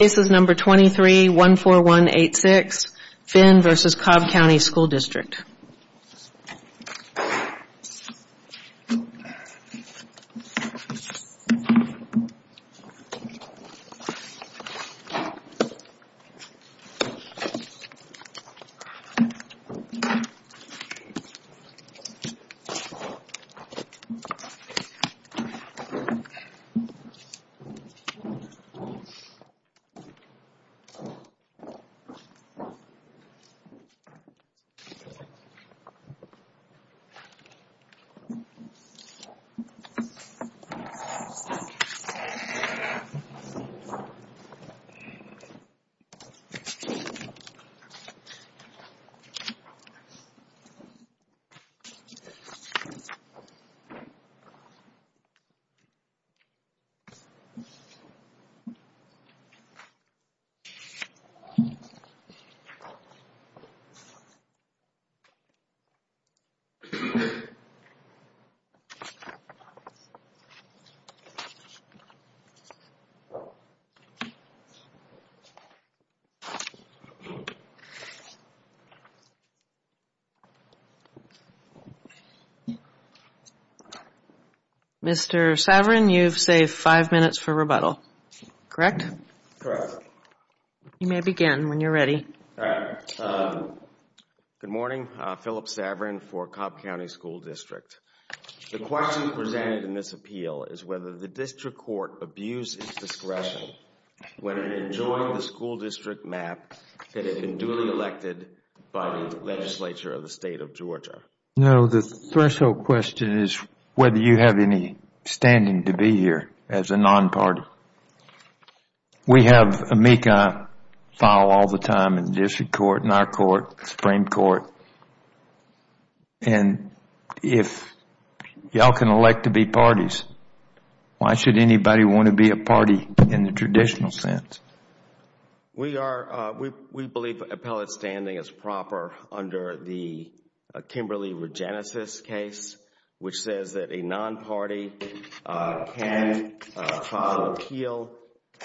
This is number 23-14186, Finn v. Cobb County School District. This is number 23-14186, Finn v. Cobb County School District. Mr. Saverin, you've saved five minutes for rebuttal, correct? Correct. You may begin when you're ready. All right. Good morning. I'm Phillip Saverin for Cobb County School District. The question presented in this appeal is whether the district court abused its discretion when it enjoyed the school district map that had been duly elected by the legislature of the State of Georgia. No, the threshold question is whether you have any standing to be here as a non-party. We have a MECA file all the time in the district court, in our court, the Supreme Court. If you all can elect to be parties, why should anybody want to be a party in the traditional sense? We believe appellate standing is proper under the Kimberley Regenesis case, which says that a non-party can file an appeal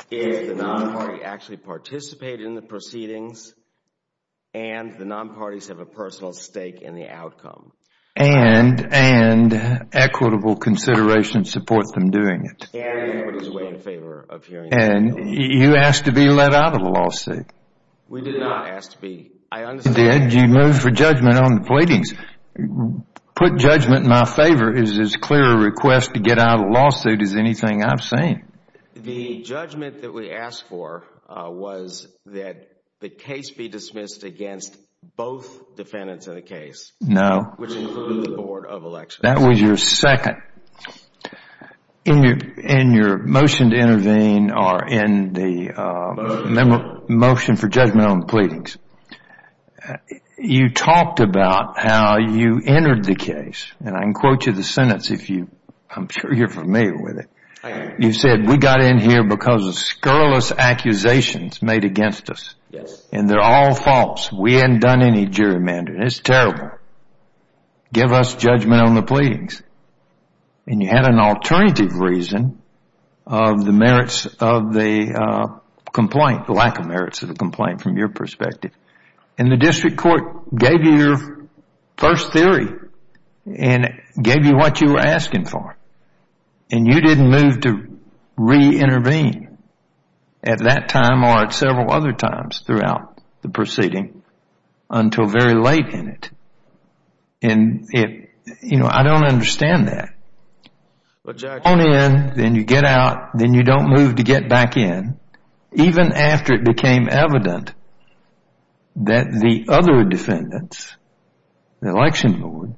if the non-party actually participated in the proceedings and the non-parties have a personal stake in the outcome. And equitable consideration supports them doing it. And you asked to be let out of the lawsuit. We did not ask to be. You moved for judgment on the pleadings. Put judgment in my favor is as clear a request to get out of a lawsuit as anything I've seen. The judgment that we asked for was that the case be dismissed against both defendants in the case. No. Which included the Board of Elections. That was your second. In your motion to intervene or in the motion for judgment on the pleadings, you talked about how you entered the case, and I can quote you the sentence if I'm sure you're familiar with it. You said, we got in here because of scurrilous accusations made against us, and they're all false. We hadn't done any gerrymandering. It's terrible. Give us judgment on the pleadings. And you had an alternative reason of the merits of the complaint, the lack of merits of the complaint from your perspective. And the district court gave you your first theory and gave you what you were asking for. And you didn't move to reintervene at that time or at several other times throughout the proceeding until very late in it. And I don't understand that. You come in, then you get out, then you don't move to get back in, even after it became evident that the other defendants, the election board,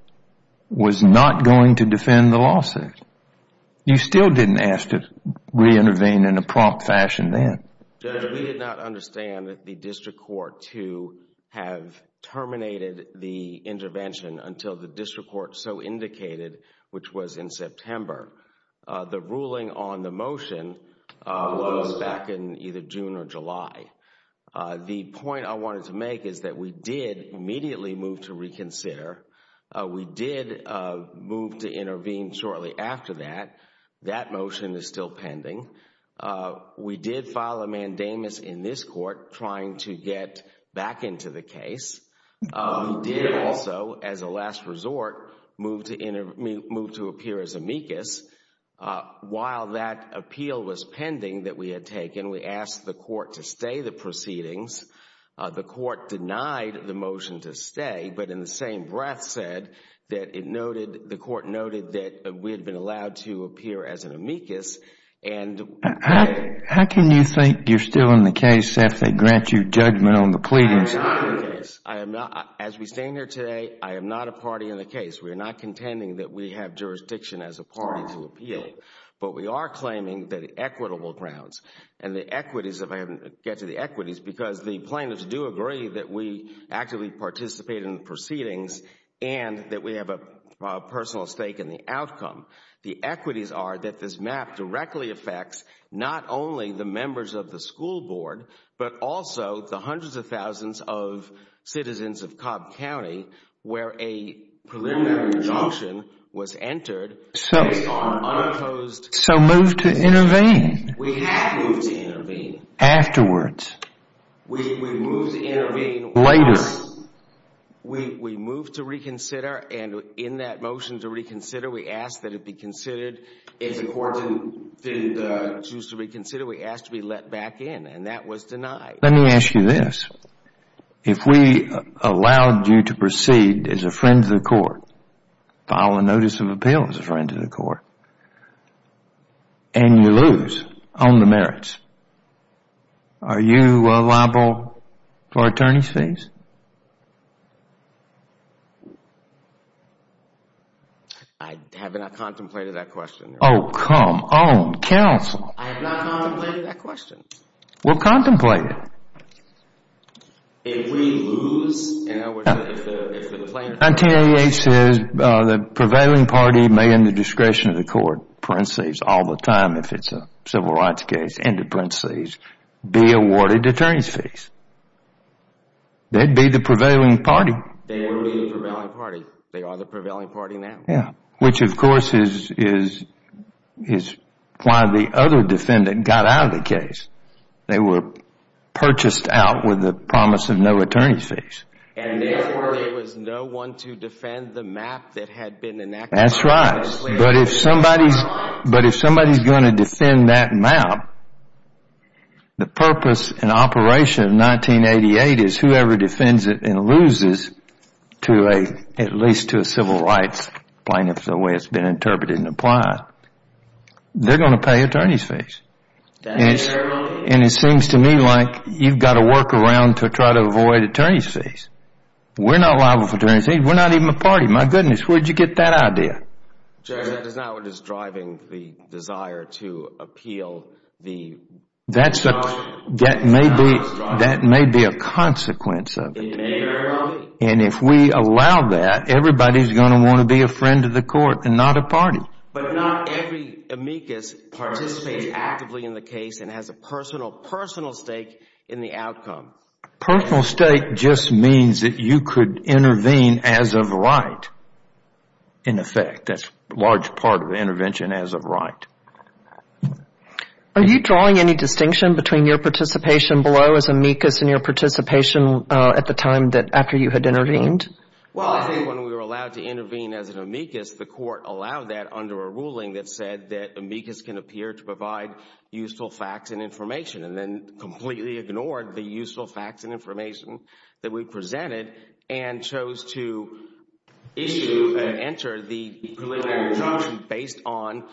was not going to defend the lawsuit. You still didn't ask to reintervene in a prompt fashion then. We did not understand that the district court to have terminated the intervention until the district court so indicated, which was in September. The ruling on the motion was back in either June or July. The point I wanted to make is that we did immediately move to reconsider. We did move to intervene shortly after that. That motion is still pending. We did file a mandamus in this court trying to get back into the case. We did also, as a last resort, move to appear as amicus. While that appeal was pending that we had taken, we asked the court to stay the proceedings. The court denied the motion to stay, but in the same breath said that it noted, the court How can you think you are still in the case if they grant you judgment on the pleadings? I am not in the case. As we stand here today, I am not a party in the case. We are not contending that we have jurisdiction as a party to appeal, but we are claiming that equitable grounds and the equities, if I can get to the equities, because the plaintiffs do agree that we actively participate in the proceedings and that we have a personal stake in the outcome. The equities are that this map directly affects not only the members of the school board, but also the hundreds of thousands of citizens of Cobb County where a preliminary injunction was entered based on unopposed... So move to intervene. We have moved to intervene. Afterwards. We moved to intervene later. We moved to reconsider, and in that motion to reconsider, we asked that it be considered. If the court didn't choose to reconsider, we asked to be let back in, and that was denied. Let me ask you this. If we allowed you to proceed as a friend to the court, file a notice of appeal as a friend to the court, and you lose on the merits, are you liable for attorney's fees? I have not contemplated that question. Oh, come on. Counsel. I have not contemplated that question. Well, contemplate it. If we lose... 1988 says the prevailing party may in the discretion of the court, parentheses, all the time if it's a civil rights case, end of parentheses, be awarded attorney's fees. They'd be the prevailing party. They would be the prevailing party. They are the prevailing party now. Yeah. They were purchased out with the promise of no attorney's fees. And therefore, there was no one to defend the map that had been enacted. That's right. But if somebody's going to defend that map, the purpose and operation of 1988 is whoever defends it and loses, at least to a civil rights plaintiff the way it's been interpreted And it seems to me like you've got to work around to try to avoid attorney's fees. We're not liable for attorney's fees. We're not even a party. My goodness, where did you get that idea? Judge, that is not what is driving the desire to appeal the... That may be a consequence of it. And if we allow that, everybody's going to want to be a friend of the court and not a party. But not every amicus participates actively in the case and has a personal, personal stake in the outcome. Personal stake just means that you could intervene as of right, in effect. That's a large part of intervention as of right. Are you drawing any distinction between your participation below as amicus and your participation at the time after you had intervened? Well, I think when we were allowed to intervene as an amicus, the court allowed that under a ruling that said that amicus can appear to provide useful facts and information and then completely ignored the useful facts and information that we presented and chose to issue, enter the preliminary judgment based on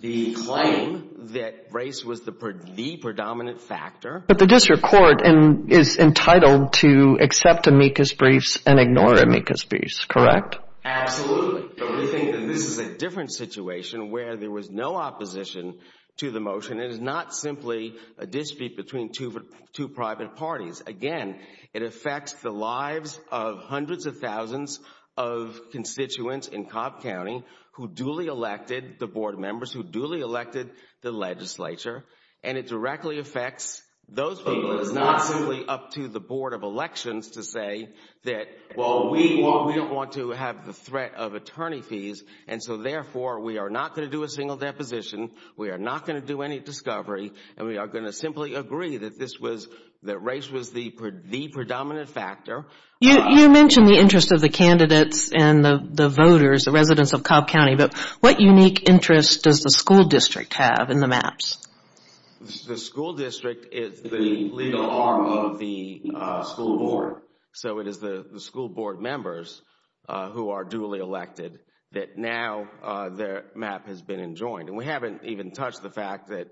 the claim that race was the predominant factor. But the district court is entitled to accept amicus briefs and ignore amicus briefs, correct? Absolutely. But we think that this is a different situation where there was no opposition to the motion. It is not simply a dispute between two private parties. Again, it affects the lives of hundreds of thousands of constituents in Cobb County who duly elected the board members, who duly elected the legislature, and it directly affects those people. It is not simply up to the Board of Elections to say that, well, we don't want to have the threat of attorney fees, and so therefore we are not going to do a single deposition, we are not going to do any discovery, and we are going to simply agree that race was the predominant factor. You mentioned the interest of the candidates and the voters, the residents of Cobb County, but what unique interest does the school district have in the maps? The school district is the legal arm of the school board, so it is the school board members who are duly elected that now their map has been enjoined, and we haven't even touched the fact that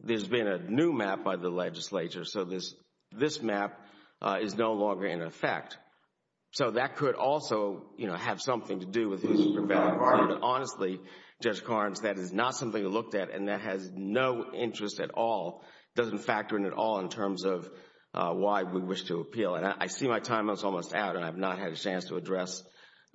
there has been a new map by the legislature, so this map is no longer in effect. So that could also, you know, have something to do with who is the prevailing party, but honestly, Judge Carnes, that is not something to look at, and that has no interest at all, doesn't factor in at all in terms of why we wish to appeal. And I see my time is almost out, and I have not had a chance to address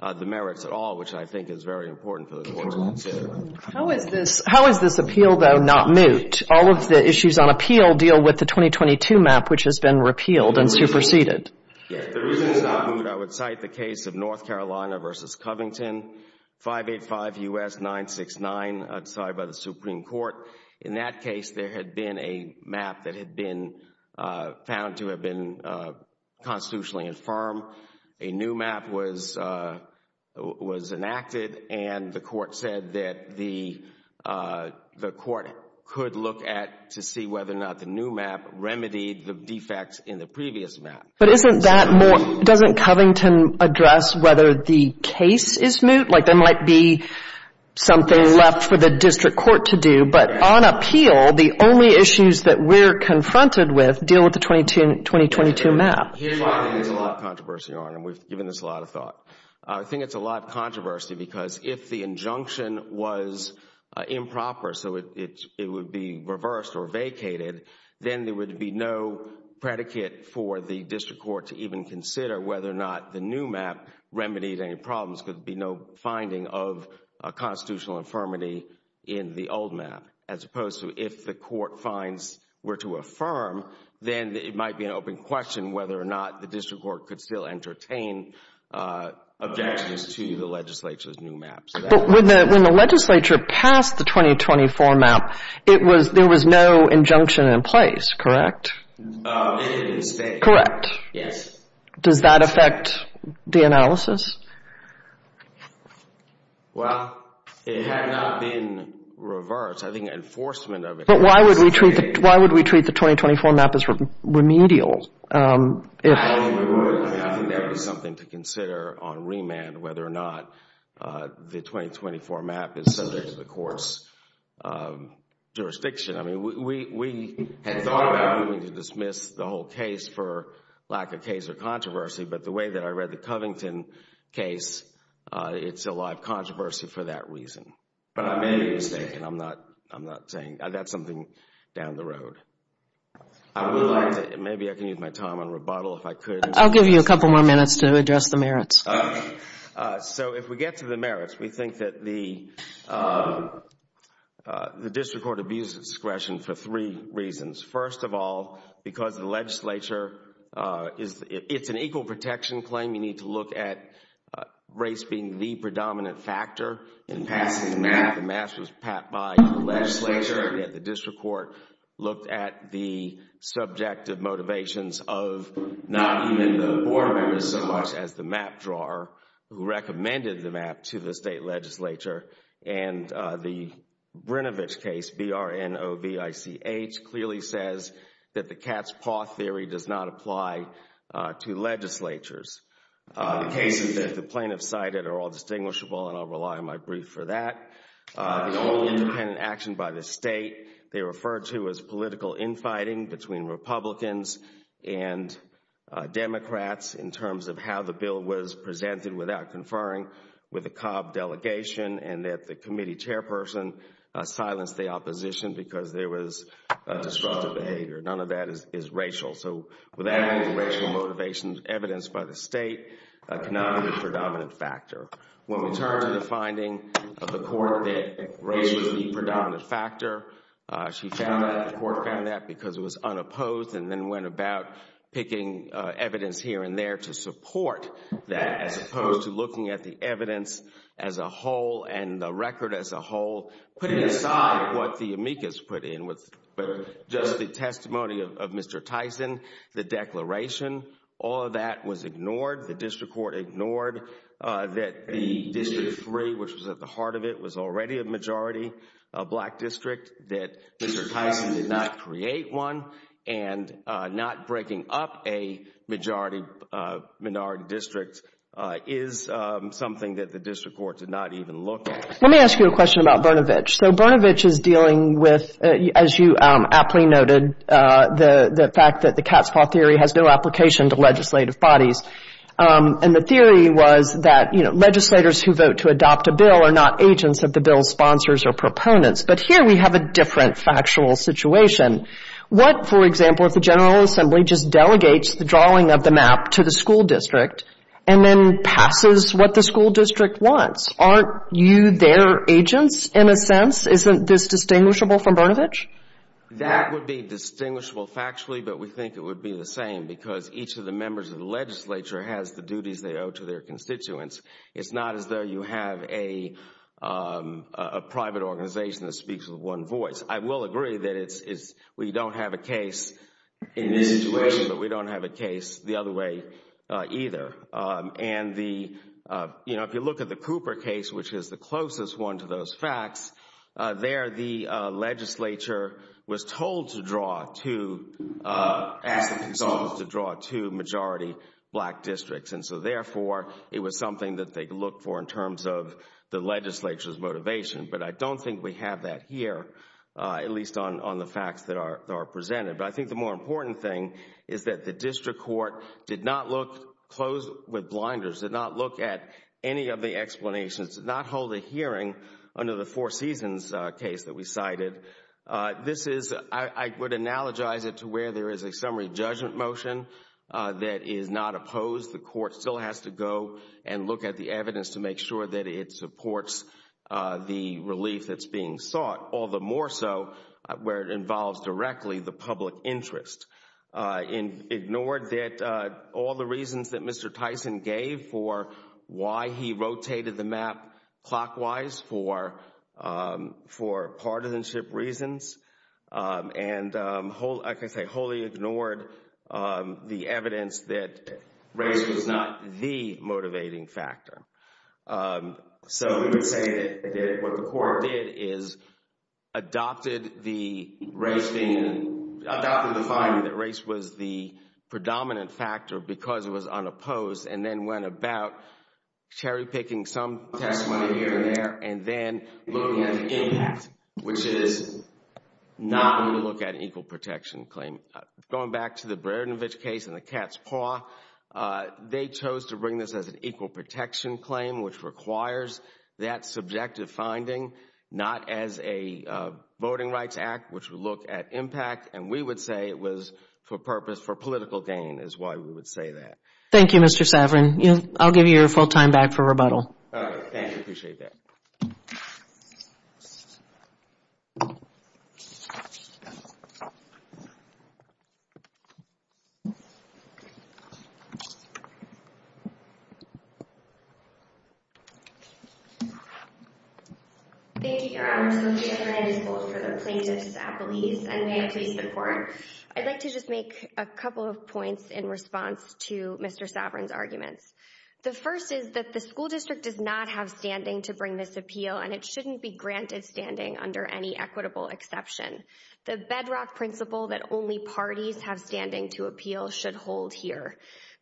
the merits at all, which I think is very important for the court to consider. How is this appeal, though, not moot? All of the issues on appeal deal with the 2022 map, which has been repealed and superseded. The reason it's not moot, I would cite the case of North Carolina v. Covington, 585 U.S. 969, I'm sorry, by the Supreme Court. In that case, there had been a map that had been found to have been constitutionally infirm. A new map was enacted, and the court said that the court could look at to see whether or not the new map remedied the defects in the previous map. But isn't that more, doesn't Covington address whether the case is moot? Like there might be something left for the district court to do, but on appeal, the only issues that we're confronted with deal with the 2022 map. Here's why I think there's a lot of controversy, Your Honor, and we've given this a lot of thought. I think it's a lot of controversy because if the injunction was improper, so it would be reversed or vacated, then there would be no predicate for the district court to even consider whether or not the new map remedied any problems because there would be no finding of constitutional infirmity in the old map. As opposed to if the court finds were to affirm, then it might be an open question whether or not the district court could still entertain objections to the legislature's new map. But when the legislature passed the 2024 map, there was no injunction in place, correct? It had been stayed. Yes. Does that affect the analysis? Well, it had not been reversed. I think enforcement of it. But why would we treat the 2024 map as remedial? I think there would be something to consider on remand whether or not the 2024 map is subject to the court's jurisdiction. I mean, we had thought about moving to dismiss the whole case for lack of case or controversy, but the way that I read the Covington case, it's a lot of controversy for that reason. But I may be mistaken. I'm not saying. That's something down the road. I would like to, maybe I can use my time on rebuttal if I could. I'll give you a couple more minutes to address the merits. Okay. So if we get to the merits, we think that the district court abused discretion for three reasons. First of all, because the legislature, it's an equal protection claim. You need to look at race being the predominant factor in passing the map. The map was passed by the legislature. The district court looked at the subjective motivations of not even the board members so much as the map drawer who recommended the map to the state legislature. And the Brinovich case, B-R-N-O-V-I-C-H, clearly says that the cat's paw theory does not apply to legislatures. The cases that the plaintiffs cited are all distinguishable, and I'll rely on my brief for that. The only independent action by the state they referred to as political infighting between Republicans and Democrats in terms of how the bill was presented without conferring with the Cobb delegation and that the committee chairperson silenced the opposition because there was destructive behavior. None of that is racial. So without any racial motivations evidenced by the state, cannot be the predominant factor. When we turn to the finding of the court that race was the predominant factor, the court found that because it was unopposed and then went about picking evidence here and there to support that as opposed to looking at the evidence as a whole and the record as a whole, putting aside what the amicus put in with just the testimony of Mr. Tyson, the declaration. The district court ignored that the district three, which was at the heart of it, was already a majority black district, that Mr. Tyson did not create one, and not breaking up a majority minority district is something that the district court did not even look at. Let me ask you a question about Brnovich. So Brnovich is dealing with, as you aptly noted, the fact that the cat's paw theory has no application to legislative bodies. And the theory was that, you know, legislators who vote to adopt a bill are not agents of the bill's sponsors or proponents. But here we have a different factual situation. What, for example, if the General Assembly just delegates the drawing of the map to the school district and then passes what the school district wants? Aren't you their agents, in a sense? Isn't this distinguishable from Brnovich? That would be distinguishable factually, but we think it would be the same because each of the members of the legislature has the duties they owe to their constituents. It's not as though you have a private organization that speaks with one voice. I will agree that we don't have a case in this situation, but we don't have a case the other way either. And, you know, if you look at the Cooper case, which is the closest one to those facts, there the legislature was told to draw two majority black districts. And so, therefore, it was something that they looked for in terms of the legislature's motivation. But I don't think we have that here, at least on the facts that are presented. But I think the more important thing is that the district court did not look, closed with blinders, did not look at any of the explanations, did not hold a hearing under the Four Seasons case that we cited. This is, I would analogize it to where there is a summary judgment motion that is not opposed. The court still has to go and look at the evidence to make sure that it supports the relief that's being sought. All the more so where it involves directly the public interest. Ignored all the reasons that Mr. Tyson gave for why he rotated the map clockwise for partisanship reasons. And I can say wholly ignored the evidence that race was not the motivating factor. So we would say that what the court did is adopted the race thing and adopted the finding that race was the predominant factor because it was unopposed. And then went about cherry picking some testimony here and there and then looking at the impact, which is not going to look at an equal protection claim. Going back to the Brernovich case and the cat's paw, they chose to bring this as an equal protection claim, which requires that subjective finding, not as a voting rights act, which would look at impact. And we would say it was for purpose for political gain is why we would say that. Thank you, Mr. Saverin. I will give you your full time back for rebuttal. Thank you. I appreciate that. Thank you. I'd like to just make a couple of points in response to Mr.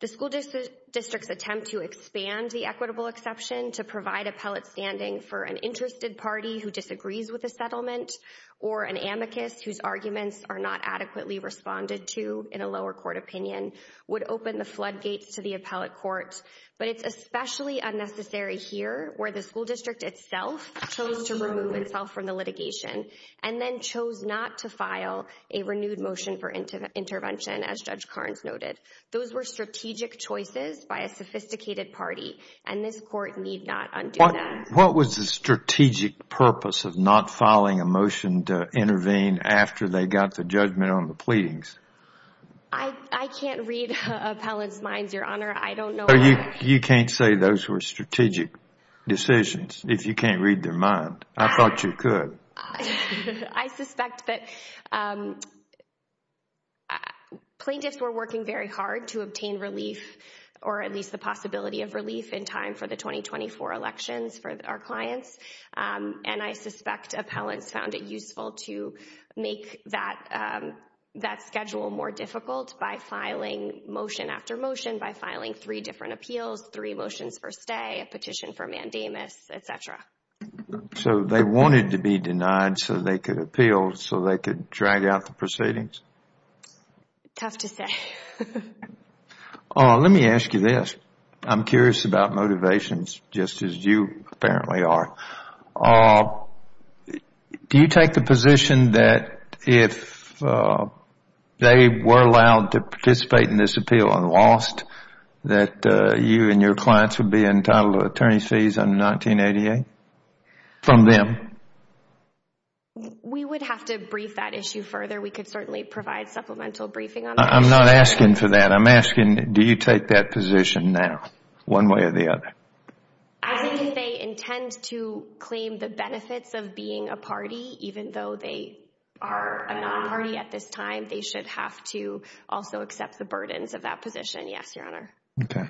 The school district's attempt to expand the equitable exception to provide appellate standing for an interested party who disagrees with a settlement or an amicus whose arguments are not adequately responded to in a lower court opinion would open the floodgates to the appellate court. But it's especially unnecessary here where the school district itself chose to remove itself from the litigation and then chose not to file a renewed motion for intervention, as Judge Carnes noted. Those were strategic choices by a sophisticated party, and this court need not undo that. What was the strategic purpose of not filing a motion to intervene after they got the judgment on the pleadings? I can't read appellants' minds, Your Honor. I don't know. You can't say those were strategic decisions if you can't read their mind. I thought you could. I suspect that plaintiffs were working very hard to obtain relief or at least the possibility of relief in time for the 2024 elections for our clients. I suspect appellants found it useful to make that schedule more difficult by filing motion after motion, by filing three different appeals, three motions per stay, a petition for mandamus, etc. So they wanted to be denied so they could appeal, so they could drag out the proceedings? Tough to say. Let me ask you this. I'm curious about motivations just as you apparently are. Do you take the position that if they were allowed to participate in this appeal and lost, that you and your clients would be entitled to attorney's fees under 1988 from them? We would have to brief that issue further. I'm not asking for that. I'm asking do you take that position now, one way or the other? I think if they intend to claim the benefits of being a party, even though they are a non-party at this time, they should have to also accept the burdens of that position, yes, Your Honor. Okay.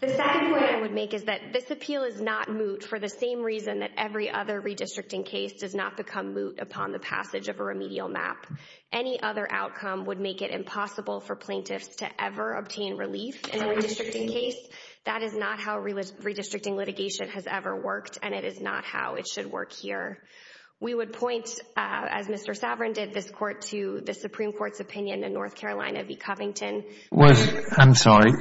The second point I would make is that this appeal is not moot for the same reason that every other redistricting case does not become moot upon the passage of a remedial map. Any other outcome would make it impossible for plaintiffs to ever obtain relief in a redistricting case. That is not how redistricting litigation has ever worked, and it is not how it should work here. We would point, as Mr. Saverin did, this Court, to the Supreme Court's opinion in North Carolina v. Covington. I'm sorry.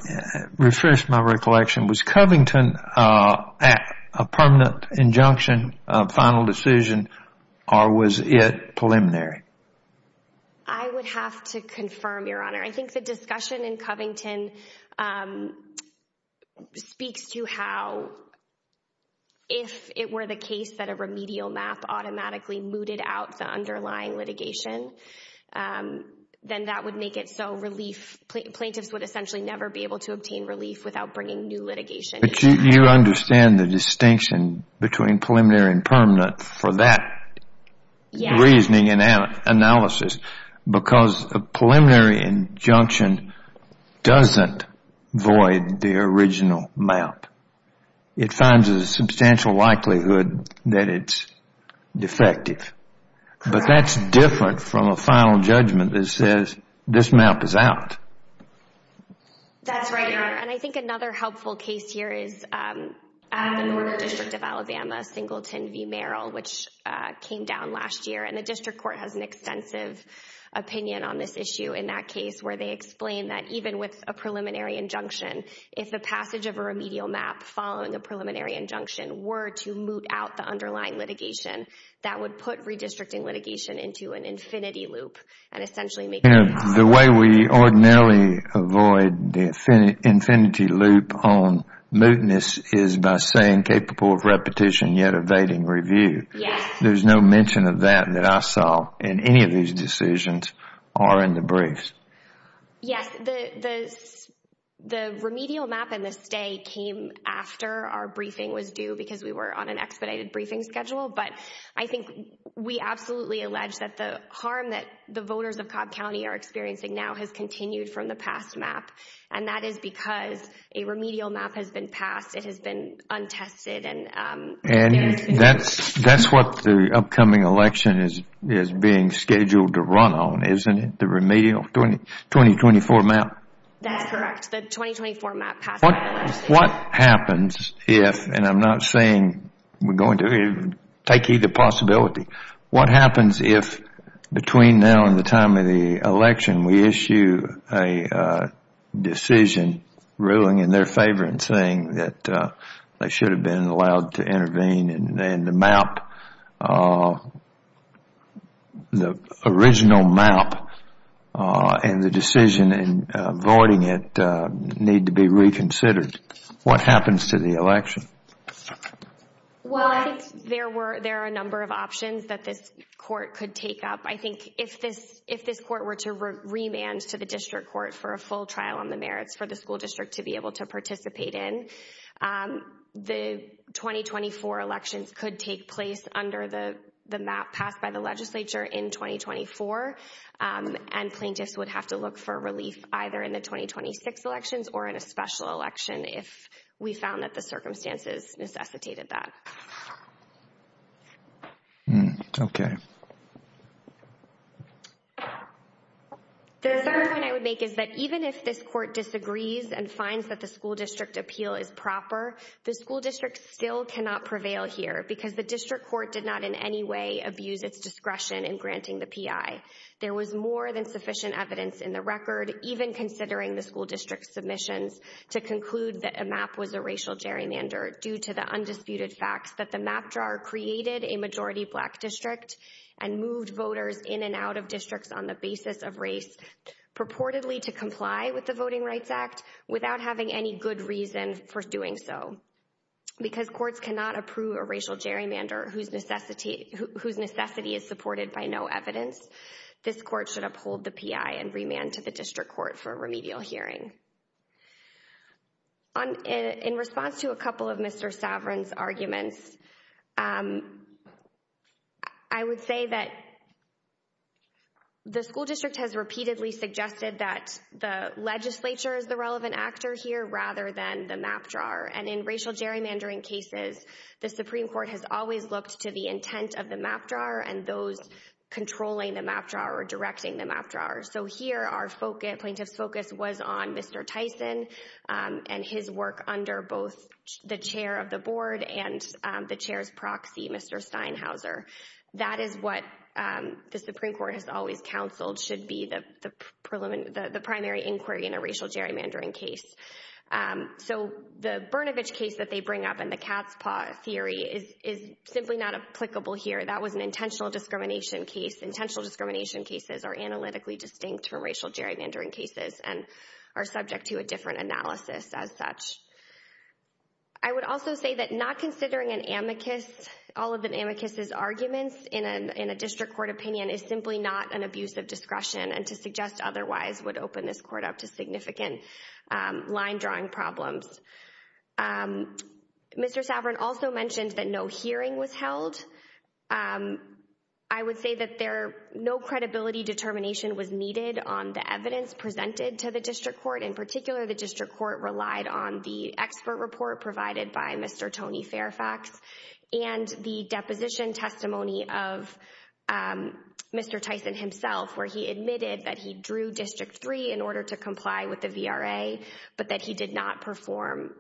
Refresh my recollection. Was Covington a permanent injunction, a final decision, or was it preliminary? I would have to confirm, Your Honor. I think the discussion in Covington speaks to how, if it were the case that a remedial map automatically mooted out the underlying litigation, then that would make it so plaintiffs would essentially never be able to obtain relief without bringing new litigation. But you understand the distinction between preliminary and permanent for that reasoning and analysis because a preliminary injunction doesn't void the original map. It finds a substantial likelihood that it's defective. Correct. But that's different from a final judgment that says this map is out. That's right, Your Honor. And I think another helpful case here is at the Northern District of Alabama, Singleton v. Merrill, which came down last year. And the District Court has an extensive opinion on this issue in that case where they explain that even with a preliminary injunction, if the passage of a remedial map following a preliminary injunction were to moot out the underlying litigation, that would put redistricting litigation into an infinity loop and essentially make it impossible. You know, the way we ordinarily avoid the infinity loop on mootness is by saying capable of repetition yet evading review. Yes. There's no mention of that that I saw in any of these decisions or in the briefs. Yes. The remedial map in this day came after our briefing was due because we were on an expedited briefing schedule. But I think we absolutely allege that the harm that the voters of Cobb County are experiencing now has continued from the past map. And that is because a remedial map has been passed. It has been untested. And that's what the upcoming election is being scheduled to run on, isn't it, the remedial 2024 map? That's correct. The 2024 map passed by the legislature. What happens if, and I'm not saying we're going to take either possibility, what happens if between now and the time of the election we issue a decision ruling in their favor and saying that they should have been allowed to intervene and the map, the original map, and the decision in voiding it need to be reconsidered? What happens to the election? Well, I think there are a number of options that this court could take up. I think if this court were to remand to the district court for a full trial on the merits for the school district to be able to participate in, the 2024 elections could take place under the map passed by the legislature in 2024. And plaintiffs would have to look for relief either in the 2026 elections or in a special election if we found that the circumstances necessitated that. Okay. The second point I would make is that even if this court disagrees and finds that the school district appeal is proper, the school district still cannot prevail here because the district court did not in any way abuse its discretion in granting the P.I. There was more than sufficient evidence in the record, even considering the school district's submissions, to conclude that a map was a racial gerrymander due to the undisputed facts that the map drawer created a majority black district and moved voters in and out of districts on the basis of race purportedly to comply with the Voting Rights Act without having any good reason for doing so. Because courts cannot approve a racial gerrymander whose necessity is supported by no evidence, this court should uphold the P.I. and remand to the district court for a remedial hearing. In response to a couple of Mr. Saverin's arguments, I would say that the school district has repeatedly suggested that the legislature is the relevant actor here rather than the map drawer. And in racial gerrymandering cases, the Supreme Court has always looked to the intent of the map drawer and those controlling the map drawer or directing the map drawer. So here, our plaintiff's focus was on Mr. Tyson and his work under both the chair of the board and the chair's proxy, Mr. Steinhauser. That is what the Supreme Court has always counseled should be the primary inquiry in a racial gerrymandering case. So the Brnovich case that they bring up and the cat's paw theory is simply not applicable here. That was an intentional discrimination case. Intentional discrimination cases are analytically distinct from racial gerrymandering cases and are subject to a different analysis as such. I would also say that not considering an amicus, all of an amicus' arguments in a district court opinion is simply not an abuse of discretion and to suggest otherwise would open this court up to significant line drawing problems. Mr. Saverin also mentioned that no hearing was held. I would say that no credibility determination was needed on the evidence presented to the district court. In particular, the district court relied on the expert report provided by Mr. Tony Fairfax and the deposition testimony of Mr. Tyson himself where he admitted that he drew District 3 in order to comply with the VRA but that he did not perform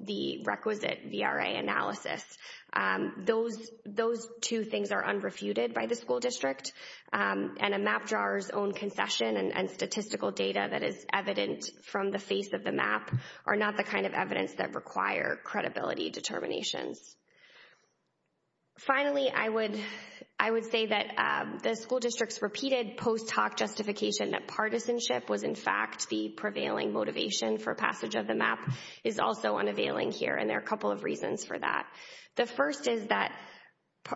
the requisite VRA analysis. Those two things are unrefuted by the school district and a map drawer's own concession and statistical data that is evident from the face of the map are not the kind of evidence that require credibility determinations. Finally, I would say that the school district's repeated post hoc justification that partisanship was in fact the prevailing motivation for passage of the map is also unavailing here and there are a couple of reasons for that. The first is that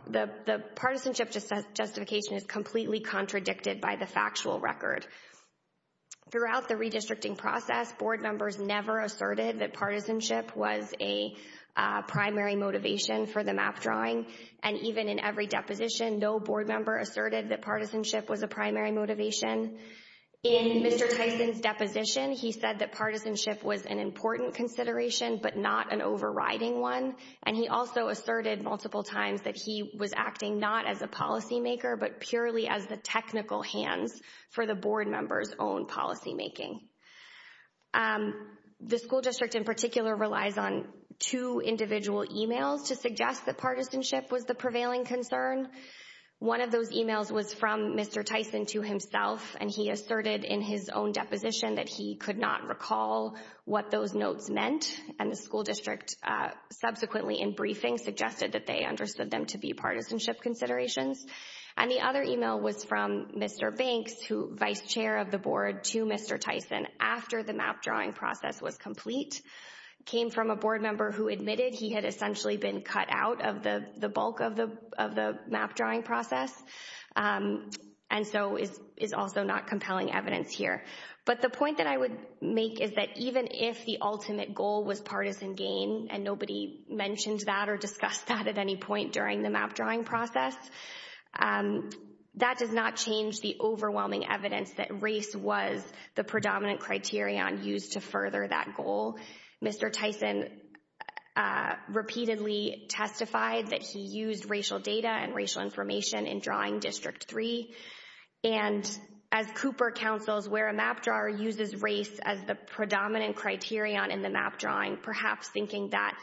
the partisanship justification is completely contradicted by the factual record. Throughout the redistricting process, board members never asserted that partisanship was a primary motivation for the map drawing and even in every deposition, no board member asserted that partisanship was a primary motivation. In Mr. Tyson's deposition, he said that partisanship was an important consideration but not an overriding one and he also asserted multiple times that he was acting not as a policymaker but purely as the technical hands for the board members' own policymaking. The school district in particular relies on two individual emails to suggest that partisanship was the prevailing concern. One of those emails was from Mr. Tyson to himself and he asserted in his own deposition that he could not recall what those notes meant and the school district subsequently in briefing suggested that they understood them to be partisanship considerations and the other email was from Mr. Banks, vice chair of the board, to Mr. Tyson after the map drawing process was complete. It came from a board member who admitted he had essentially been cut out of the bulk of the map drawing process and so is also not compelling evidence here. But the point that I would make is that even if the ultimate goal was partisan gain and nobody mentioned that or discussed that at any point during the map drawing process, that does not change the overwhelming evidence that race was the predominant criterion used to further that goal. Mr. Tyson repeatedly testified that he used racial data and racial information in drawing District 3 and as Cooper counsels, where a map drawer uses race as the predominant criterion in the map drawing, perhaps thinking that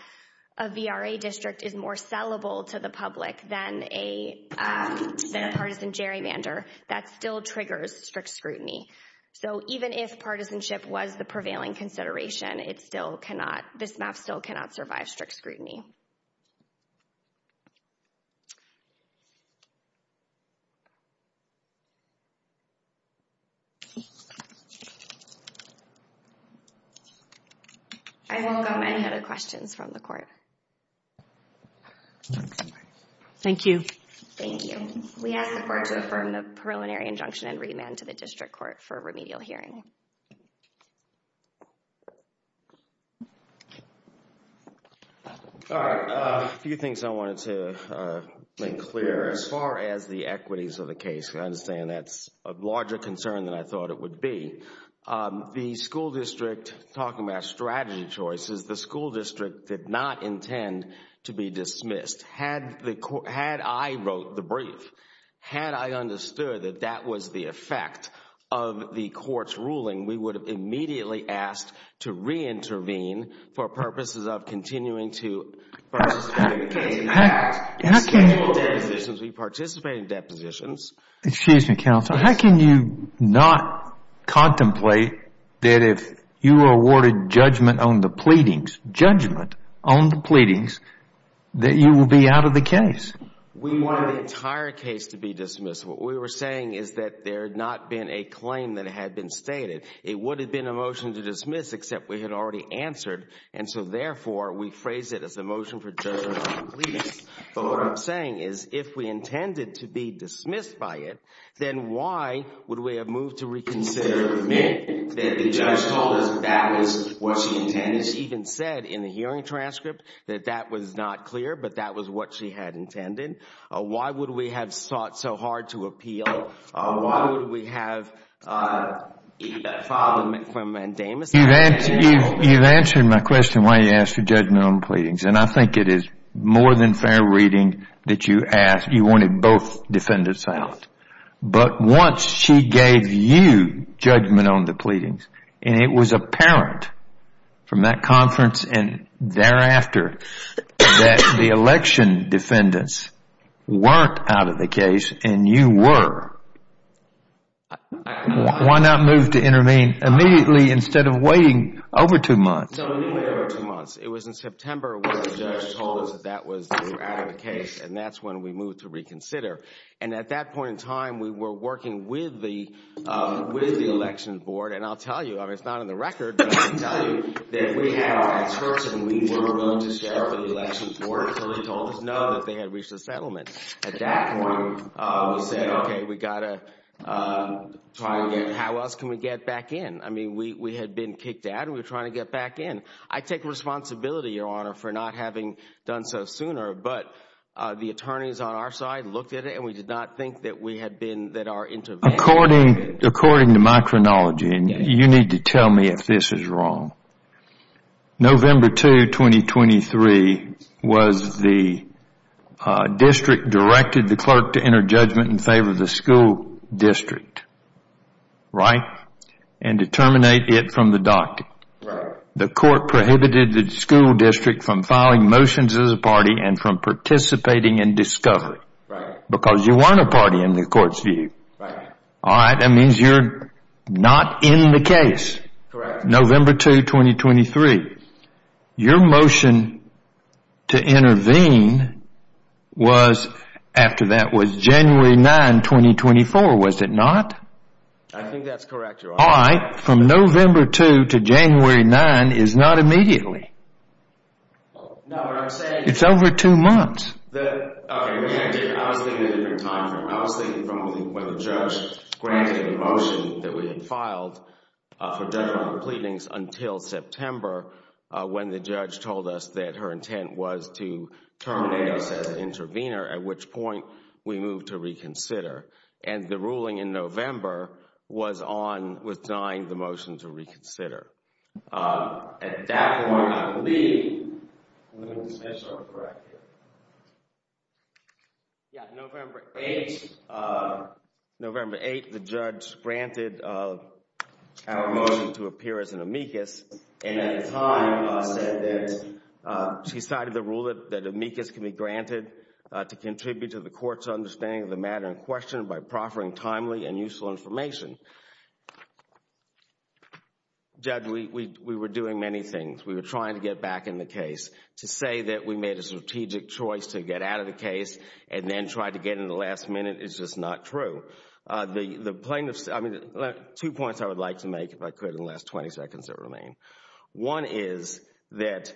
a VRA district is more sellable to the public than a partisan gerrymander, that still triggers strict scrutiny. So even if partisanship was the prevailing consideration, this map still cannot survive strict scrutiny. I welcome any other questions from the court. Thank you. Thank you. We ask the court to affirm the preliminary injunction and remand to the district court for remedial hearing. All right. A few things I wanted to make clear. As far as the equities of the case, I understand that's a larger concern than I thought it would be. The school district, talking about strategy choices, the school district did not intend to be dismissed. Had I wrote the brief, had I understood that that was the effect of the court's ruling, we would have immediately asked to reintervene for purposes of continuing to participate in the case. We participate in depositions. Excuse me, counsel. How can you not contemplate that if you were awarded judgment on the pleadings, that you will be out of the case? We wanted the entire case to be dismissed. What we were saying is that there had not been a claim that had been stated. It would have been a motion to dismiss except we had already answered, and so therefore we phrased it as a motion for judgment on the pleadings. But what I'm saying is if we intended to be dismissed by it, then why would we have moved to reconsider the minute that the judge told us that that was what she intended? She even said in the hearing transcript that that was not clear, but that was what she had intended. Why would we have sought so hard to appeal? Why would we have filed a mandamus? You've answered my question why you asked for judgment on the pleadings, and I think it is more than fair reading that you asked. You wanted both defendants out. But once she gave you judgment on the pleadings, and it was apparent from that conference and thereafter that the election defendants weren't out of the case and you were, why not move to intervene immediately instead of waiting over two months? No, it didn't wait over two months. It was in September when the judge told us that they were out of the case, and that's when we moved to reconsider. And at that point in time, we were working with the election board, and I'll tell you, I mean, it's not in the record, but I can tell you that we had our experts, and we were willing to step up to the election board until they told us no, that they had reached a settlement. At that point, we said, okay, we've got to try and get, how else can we get back in? I mean, we had been kicked out, and we were trying to get back in. I take responsibility, Your Honor, for not having done so sooner, but the attorneys on our side looked at it, and we did not think that we had been, that our intervention... According to my chronology, and you need to tell me if this is wrong, November 2, 2023 was the district directed the clerk to enter judgment in favor of the school district, right, and to terminate it from the docket. Right. The court prohibited the school district from filing motions as a party and from participating in discovery. Right. Because you weren't a party in the court's view. Right. All right, that means you're not in the case. Correct. November 2, 2023. Your motion to intervene was, after that, was January 9, 2024, was it not? I think that's correct, Your Honor. All right, from November 2 to January 9 is not immediately. No, what I'm saying is... It's over two months. Okay, I was thinking a different time frame. I was thinking from when the judge granted the motion that we had filed for judgmental pleadings until September, when the judge told us that her intent was to terminate us as an intervener, at which point we moved to reconsider. And the ruling in November was on withdrawing the motion to reconsider. At that point, I believe Linda Smith is correct here. Yeah, November 8. November 8, the judge granted our motion to appear as an amicus, and at the time said that she cited the rule that amicus can be granted to contribute to the court's understanding of the matter in question by proffering timely and useful information. Judge, we were doing many things. We were trying to get back in the case. To say that we made a strategic choice to get out of the case and then try to get in the last minute is just not true. The plaintiffs... I mean, two points I would like to make, if I could, in the last 20 seconds that remain. One is that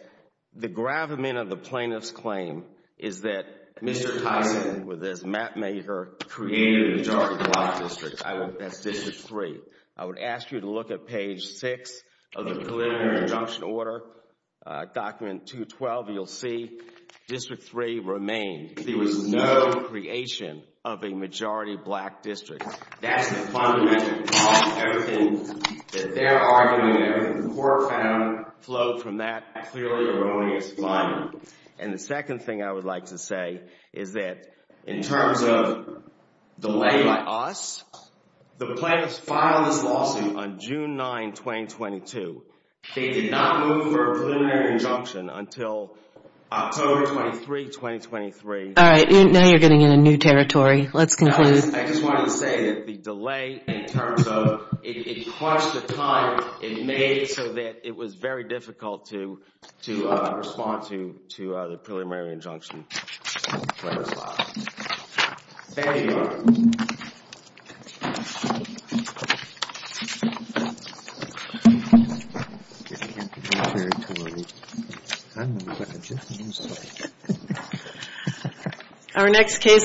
the gravamen of the plaintiff's claim is that Mr. Tyson, with his mapmaker, created a majority black district. That's District 3. I would ask you to look at page 6 of the preliminary injunction order, document 212, and you'll see District 3 remained. There was no creation of a majority black district. That's the fundamental problem. Everything that they're arguing, everything the court found, flowed from that clearly erroneous line. And the second thing I would like to say is that in terms of delay by us, the plaintiffs filed this lawsuit on June 9, 2022. They did not move for a preliminary injunction until October 23, 2023. All right. Now you're getting in a new territory. Let's conclude. I just wanted to say that the delay in terms of... It crushed the time it made so that it was very difficult to respond to the preliminary injunction when it was filed. Thank you. Our next case is...